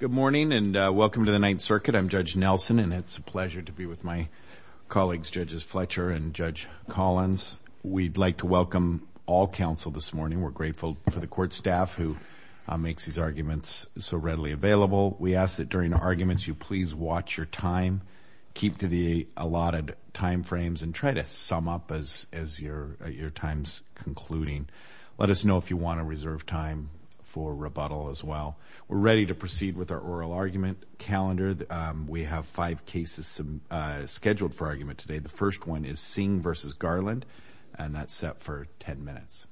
Good morning and welcome to the Ninth Circuit. I'm Judge Nelson and it's a pleasure to be with my colleagues Judges Fletcher and Judge Collins. We'd like to welcome all counsel this morning. We're grateful for the court staff who makes these arguments so readily available. We ask that during arguments you please watch your time, keep to the allotted time frames, and try to sum up as as your your time's concluding. Let us know if you want to reserve time for rebuttal as well. We're ready to proceed with our oral argument calendar. We have five cases scheduled for argument today. The first one is Singh v. Garland and that's set for 10 minutes.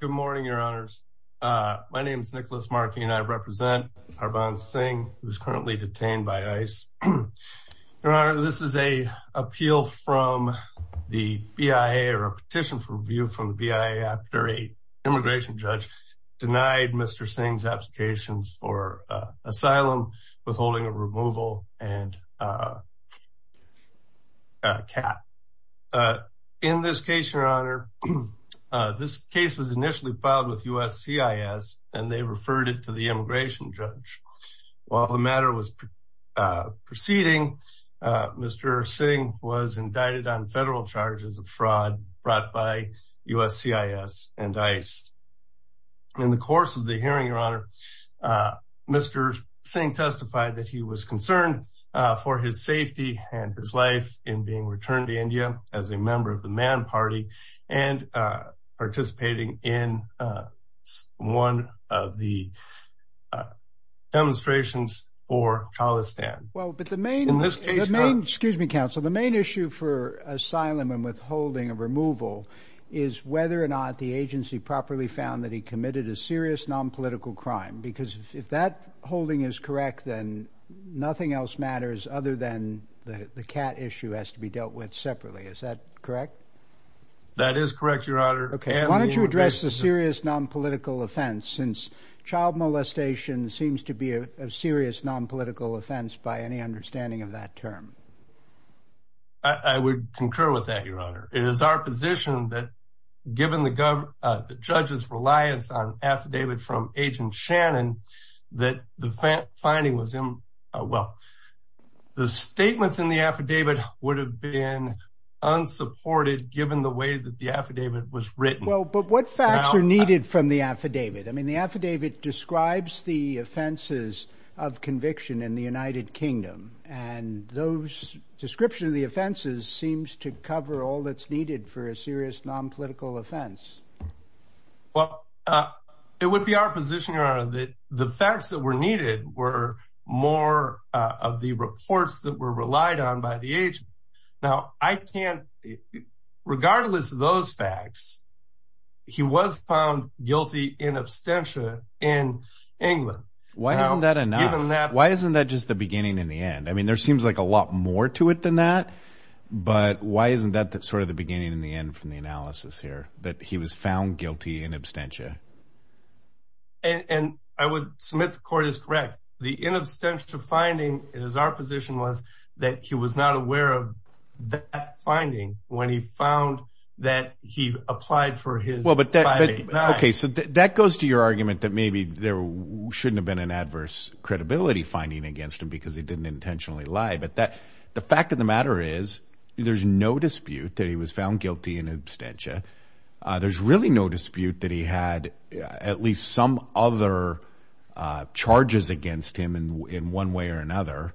Good morning, Your Honors. My name is Nicholas Markey and I represent Harbhaan Singh who's currently detained by ICE. Your Honor, this is a appeal from the BIA or a petition for review from the BIA after an immigration judge denied Mr. Singh's applications for asylum, withholding of removal, and a cap. In this case, Your Honor, this case was initially filed with USCIS and they referred it to the immigration judge. While the matter was proceeding, Mr. Singh was indicted on brought by USCIS and ICE. In the course of the hearing, Your Honor, Mr. Singh testified that he was concerned for his safety and his life in being returned to India as a member of the Man Party and participating in one of the demonstrations for Khalistan. Well, but the main excuse me, counsel, the main issue for asylum and withholding of removal is whether or not the agency properly found that he committed a serious non-political crime because if that holding is correct, then nothing else matters other than the the cat issue has to be dealt with separately. Is that correct? That is correct, Your Honor. Okay, why don't you address the serious non-political offense since child molestation seems to be a serious non-political offense by any I would concur with that, Your Honor. It is our position that given the government judges reliance on affidavit from agent Shannon that the finding was him. Well, the statements in the affidavit would have been unsupported given the way that the affidavit was written. But what facts are needed from the affidavit? I mean, the affidavit describes the offenses of conviction in the United Kingdom, and those description of the offenses seems to cover all that's needed for a serious non-political offense. Well, it would be our position, Your Honor, that the facts that were needed were more of the reports that were relied on by the age. Now, I can't, regardless of those facts, he was found guilty in abstention in England. Why isn't that enough? Why isn't that just the beginning and the end? I mean, there seems like a lot more to it than that. But why isn't that that sort of the beginning and the end from the analysis here, that he was found guilty in abstention? And I would submit the court is correct. The inabstention finding is our position was that he was not aware of that finding when he found that he applied for his. Well, but that I mean, OK, so that goes to your argument that maybe there shouldn't have been an against him because he didn't intentionally lie. But that the fact of the matter is, there's no dispute that he was found guilty in abstention. There's really no dispute that he had at least some other charges against him in one way or another.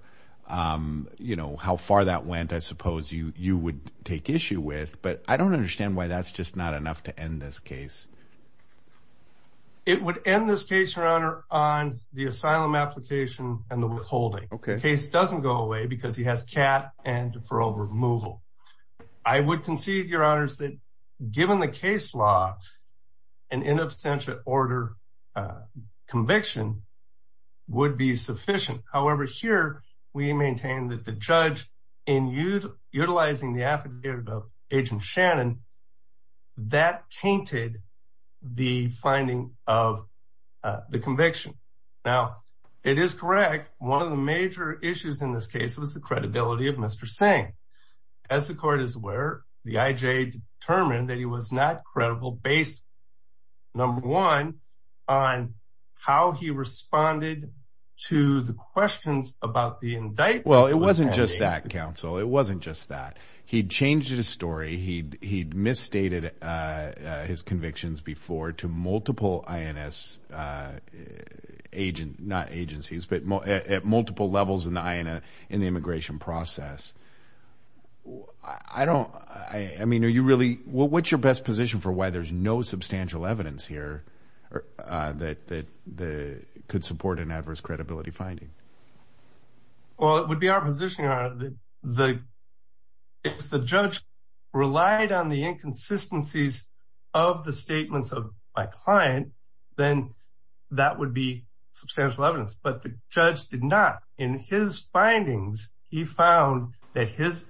Um, you know how far that went, I suppose you you would take issue with. But I don't understand why that's just not enough to end this case. It would end this case, your honor, on the asylum application and the withholding case doesn't go away because he has cat and deferral removal. I would concede, your honors, that given the case law, an in absentia order, uh, conviction would be sufficient. However, here we maintain that the judge in utilizing the affidavit of agent Shannon that tainted the finding of the conviction. Now it is correct. One of the major issues in this case was the credibility of Mr Singh. As the court is aware, the I. J. Determined that he was not credible based number one on how he responded to the questions about the wasn't just that he changed his story. He he misstated his convictions before to multiple I. N. S. Uh, agent, not agencies, but at multiple levels in the I. N. A. In the immigration process, I don't I mean, are you really? What's your best position for why there's no substantial evidence here? Uh, that that the could support an adverse credibility finding? Well, it would be our position on the if the judge relied on the inconsistencies of the statements of my client, then that would be substantial evidence. But the judge did not. In his findings, he found that his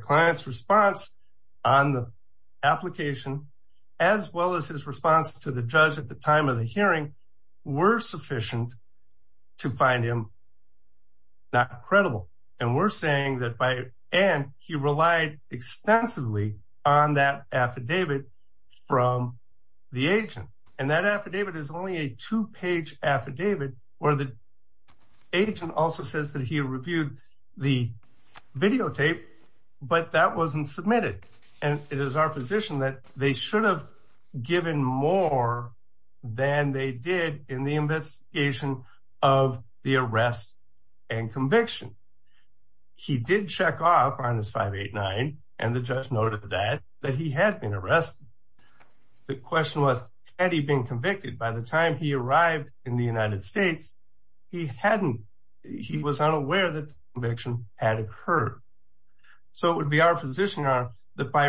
client's response on the application as well as his response to the judge at the time of the hearing were sufficient to find him not credible. And we're saying that by and he relied extensively on that affidavit from the agent. And that affidavit is only a two page affidavit where the agent also says that he reviewed the videotape, but that wasn't submitted. And it is our position that they should have given more than they did in the investigation of the arrest and conviction. He did check off on his 589 and the judge noted that that he had been arrested. The question was, had he been convicted by the time he arrived in the United States? He hadn't. He was unaware that conviction had occurred. So it would be our position on that by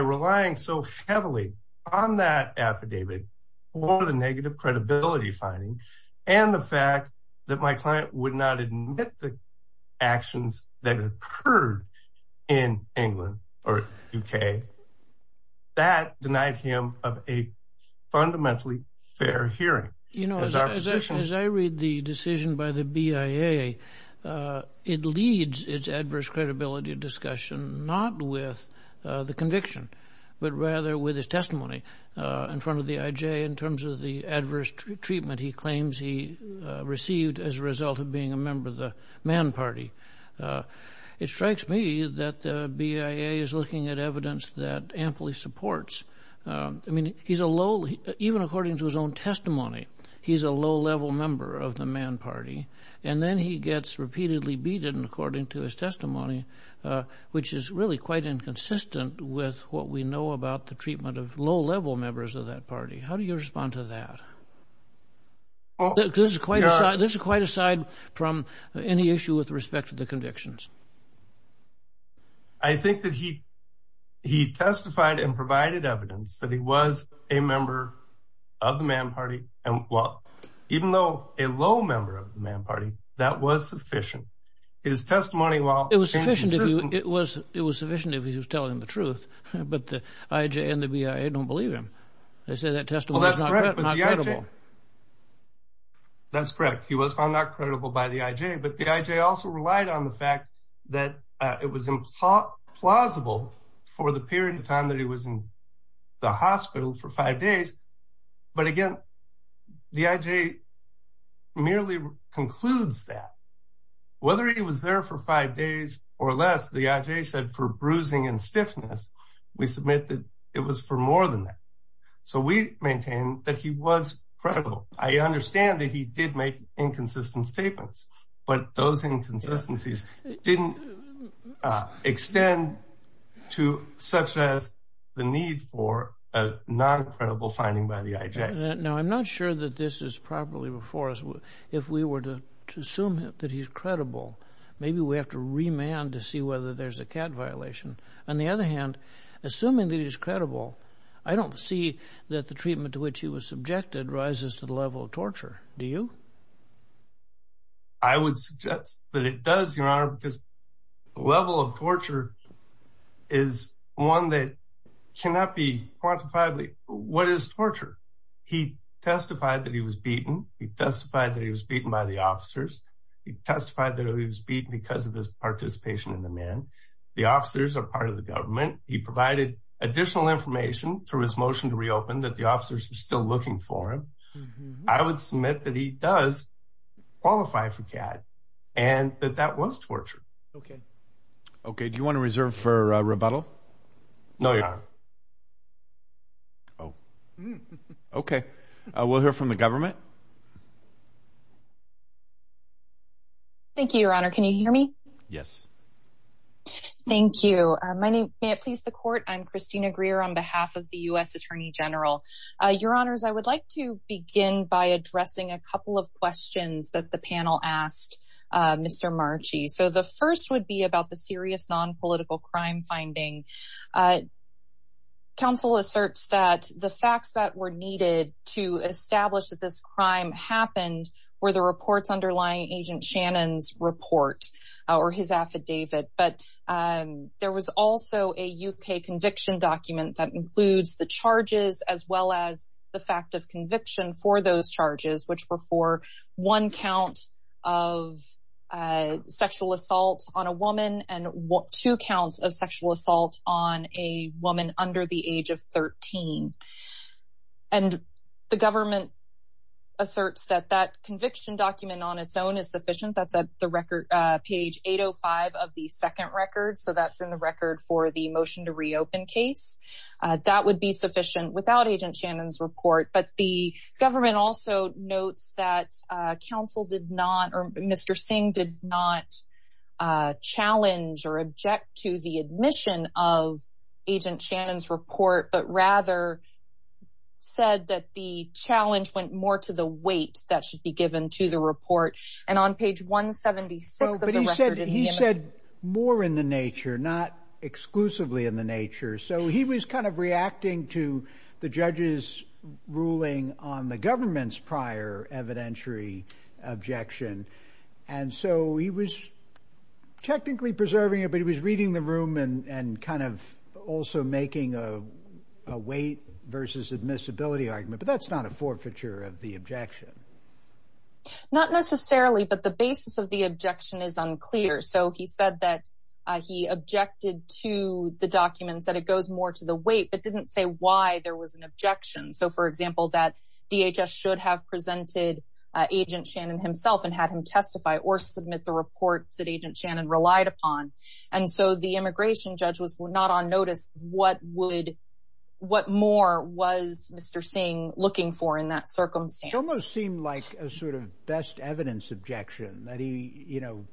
and the fact that my client would not admit the actions that occurred in England or UK, that denied him of a fundamentally fair hearing. You know, as I read the decision by the BIA, it leads its adverse credibility discussion, not with the conviction, but rather with his testimony in front of the BIA that he claims he received as a result of being a member of the man party. It strikes me that the BIA is looking at evidence that amply supports. I mean, he's a low, even according to his own testimony, he's a low level member of the man party. And then he gets repeatedly beaten according to his testimony, which is really quite inconsistent with what we know about the treatment of low level members of that party. How do you respond to that? This is quite a side. This is quite a side from any issue with respect to the convictions. I think that he, he testified and provided evidence that he was a member of the man party. And well, even though a low member of the man party, that was sufficient. His testimony, while it was sufficient, it was, it was sufficient if he was telling the truth, but the IJ and the BIA don't believe him. They say that testimony is not credible. That's correct. He was found not credible by the IJ, but the IJ also relied on the fact that it was implausible for the period of time that he was in the hospital for five days. But again, the IJ merely concludes that whether he was there for five days or less, the IJ said for bruising and So we maintain that he was credible. I understand that he did make inconsistent statements, but those inconsistencies didn't extend to such as the need for a non credible finding by the IJ. Now, I'm not sure that this is properly before us. If we were to assume that he's credible, maybe we have to remand to see whether there's a cat violation. On the other hand, assuming that he's credible, I don't see that the treatment to which he was subjected rises to the level of torture. Do you? I would suggest that it does, Your Honor, because the level of torture is one that cannot be quantified. What is torture? He testified that he was beaten. He testified that he was beaten by the officers. He testified that he was beaten because of his participation in the man. The officers are part of the government. He provided additional information through his motion to reopen that the officers are still looking for him. I would submit that he does qualify for cat and that that was torture. Okay. Okay. Do you want to reserve for rebuttal? No, you're not. Oh, okay. We'll hear from the government. Thank you, Your Honor. Can you hear me? Yes. Thank you. My name. May it please the court. I'm Christina Greer on behalf of the U. S. Attorney General. Your Honors, I would like to begin by addressing a couple of questions that the panel asked Mr Marci. So the first would be about the serious non political crime finding. Uh, council asserts that the facts that were needed to establish that this crime happened where the reports underlying Agent Shannon's report or his affidavit. But, um, there was also a U. K. Conviction document that includes the charges as well as the fact of conviction for those charges, which were for one count of, uh, sexual assault on a woman and two counts of sexual assault on a woman under the age of 13. And the government asserts that that conviction document on its own is sufficient. That's the record page 805 of the second record. So that's in the record for the motion to reopen case that would be sufficient without Agent Shannon's report. But the government also notes that council did not or Mr Singh did not, uh, challenge or object to the admission of Agent Shannon's report, but rather said that the challenge went more to the weight that should be given to the report. And on page 1 76, he said more in the nature, not exclusively in the nature. So he was kind of reacting to the judges ruling on the government's prior evidentiary objection. And so he was technically preserving it, but he was reading the room and and kind of also making a weight versus admissibility argument. But that's not a forfeiture of the objection. Not necessarily. But the basis of the objection is unclear. So he said that he objected to the documents that it goes more to the weight, but didn't say why there was an objection. So, for example, that DHS should have presented Agent Shannon himself and had him testify or submit the reports that Agent Shannon relied upon. And so the immigration judge was not on notice. What would what more was Mr Singh looking for in that circumstance? Almost seemed like a sort of best evidence objection that he, you know,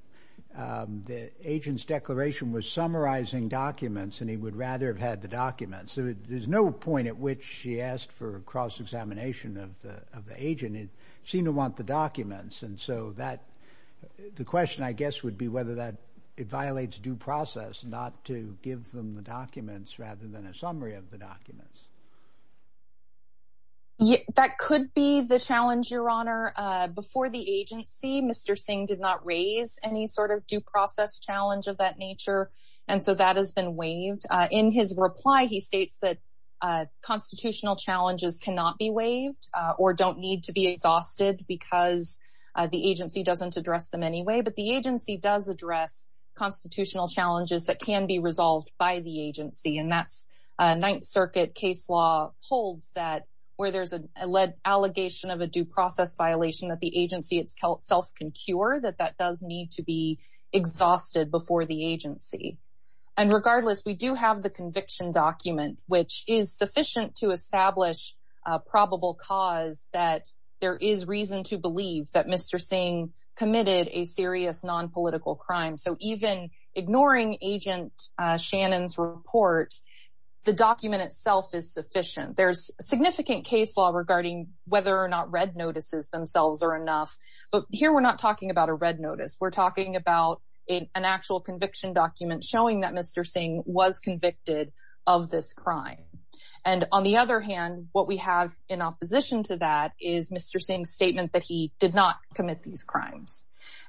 the agent's declaration was summarizing documents, and he would rather have had the documents. There's no point at which she asked for a cross examination of the agent. It seemed to want the documents. And so that the question, I guess, would be whether that it violates due process not to give them the documents rather than a summary of the documents. Yeah, that could be the challenge, Your Honor. Before the agency, Mr Singh did not raise any sort of due process challenge of that nature, and so that has been waived. In his reply, he states that constitutional challenges cannot be waived or don't need to be exhausted because the agency doesn't address them anyway. But the agency does address constitutional challenges that can be resolved by the agency. And that's Ninth Circuit case law holds that where there's a lead allegation of a due process violation that the agency itself can cure that that does need to be exhausted before the agency. And regardless, we do have the conviction document, which is sufficient to establish probable cause that there is reason to believe that Mr Singh committed a serious nonpolitical crime. So even ignoring Agent Shannon's report, the document itself is sufficient. There's significant case law regarding whether or not red notices themselves are enough. But here we're not talking about a red notice. We're talking about an actual conviction document showing that Mr Singh was convicted of this crime. And on the other hand, what we have in opposition to that is Mr Singh's statement that he did not commit these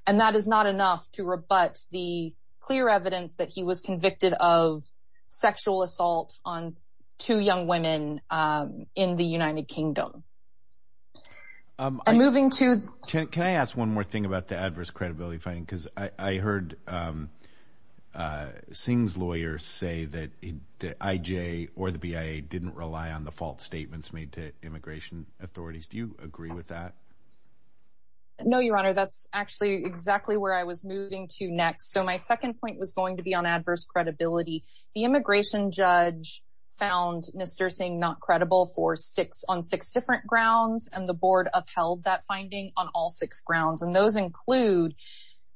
and that is not enough to rebut the clear evidence that he was convicted of sexual assault on two young women in the United Kingdom. Moving to can I ask one more thing about the adverse credibility finding? Because I heard Singh's lawyers say that the IJ or the BIA didn't rely on the fault statements made to immigration authorities. Do you agree with that? No, Your Honor, that's actually exactly where I was moving to next. So my second point was going to be on adverse credibility. The immigration judge found Mr Singh not credible for six on six different grounds, and the board upheld that finding on all six grounds. And those include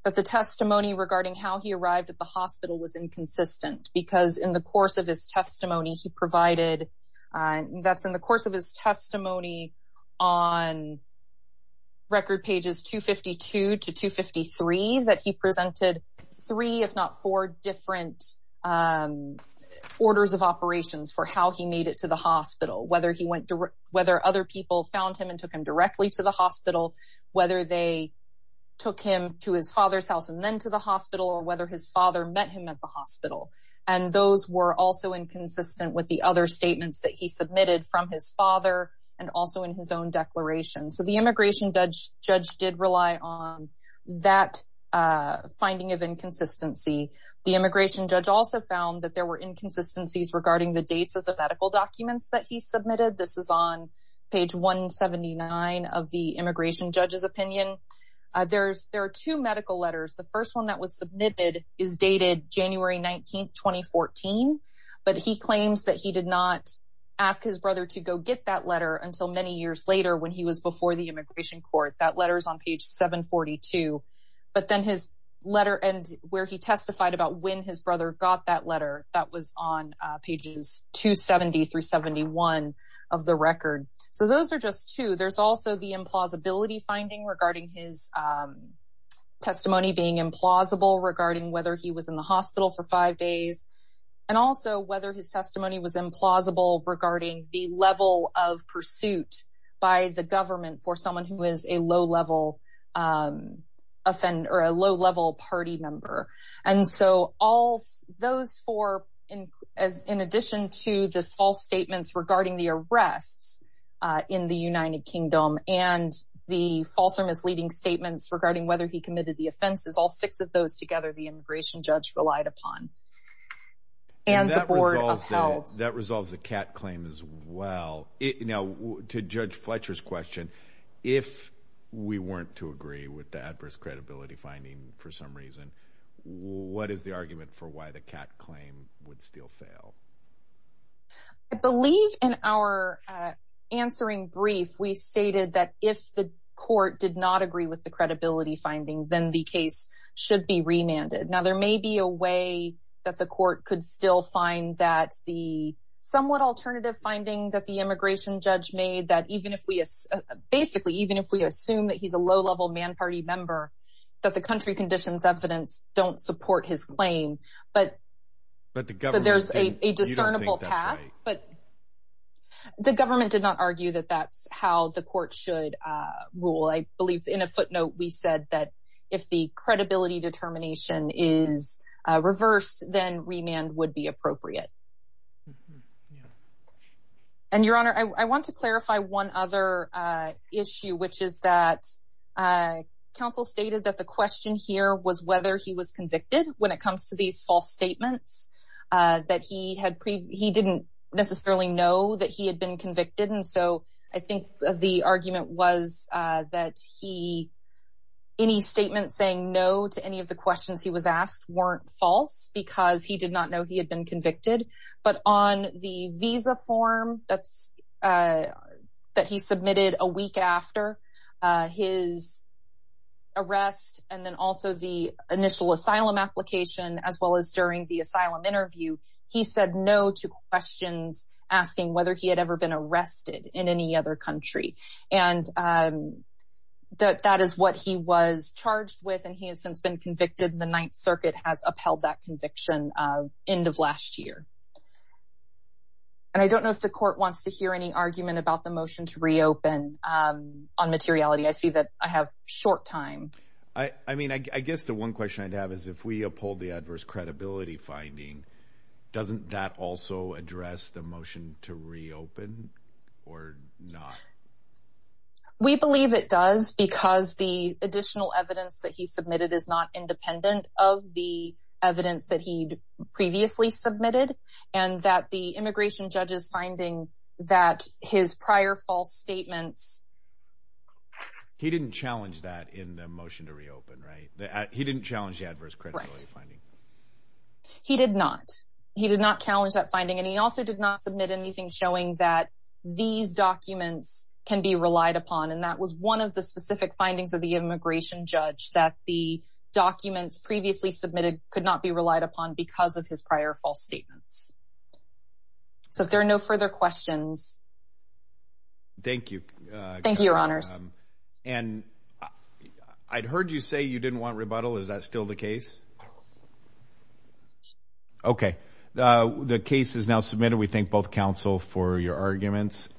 that the testimony regarding how he arrived at the hospital was inconsistent because in the course of his testimony, he provided that's in the course of his testimony on record pages 252 to 253 that he presented three, if not four different orders of operations for how he made it to the hospital, whether he went to whether other people found him and took him directly to the hospital, whether they took him to his father's house and then to the hospital or whether his father met him at the hospital. And those were also inconsistent with the other statements that he submitted from his father and also in his own declaration. So the immigration judge did rely on that finding of inconsistency. The immigration judge also found that there were inconsistencies regarding the dates of the medical documents that he submitted. This is on page 179 of the immigration judge's opinion. There are two medical letters. The first one that was submitted is dated January 19th, 2014, but he claims that he did not ask his brother to go get that letter until many years later when he was before the immigration court. That letter is on page 742. But then his letter and where he testified about when his brother got that letter that was on pages 270 through 71 of the record. So those are just two. There's also the implausibility finding regarding his testimony being implausible regarding whether he was in the hospital for five days and also whether his testimony was implausible regarding the level of suit by the government for someone who is a low-level offender or a low-level party member. And so all those four, in addition to the false statements regarding the arrests in the United Kingdom and the false or misleading statements regarding whether he committed the offenses, all six of those together, the immigration judge relied upon. And the Board of Judges, to Judge Fletcher's question, if we weren't to agree with the adverse credibility finding for some reason, what is the argument for why the Catt claim would still fail? I believe in our answering brief, we stated that if the court did not agree with the credibility finding, then the case should be remanded. Now, there may be a way that the court could still find that the somewhat alternative finding that the immigration judge made, that even if we, basically, even if we assume that he's a low-level man party member, that the country conditions evidence don't support his claim, but there's a discernible path. But the government did not argue that that's how the court should rule. I believe in a footnote, we said that if the credibility determination is reversed, then remand would be appropriate. And, Your Honor, I want to clarify one other issue, which is that counsel stated that the question here was whether he was convicted when it comes to these false statements, that he didn't necessarily know that he had been convicted. And so, I think the argument was that any statement saying no to any of the questions he was asked weren't false, because he did not know he had been convicted. But on the visa form that he submitted a week after his arrest, and then also the initial asylum application, as well as during the asylum interview, he said no to questions asking whether he had ever been arrested in any other country. And that is what he was charged with, and he has since been released last year. And I don't know if the court wants to hear any argument about the motion to reopen on materiality. I see that I have short time. I mean, I guess the one question I'd have is if we uphold the adverse credibility finding, doesn't that also address the motion to reopen or not? We believe it does, because the additional evidence that he submitted is not independent of the evidence that he'd previously submitted, and that the immigration judge's finding that his prior false statements... He didn't challenge that in the motion to reopen, right? He didn't challenge the adverse credibility finding. He did not. He did not challenge that finding. And he also did not submit anything showing that these documents can be relied upon. And that was one of the specific findings of the immigration judge, that the documents previously submitted could not be relied upon because of his prior false statements. So if there are no further questions. Thank you. Thank you, Your Honors. And I'd heard you say you didn't want rebuttal. Is that still the case? Okay, the case is now submitted. We thank both counsel for your arguments.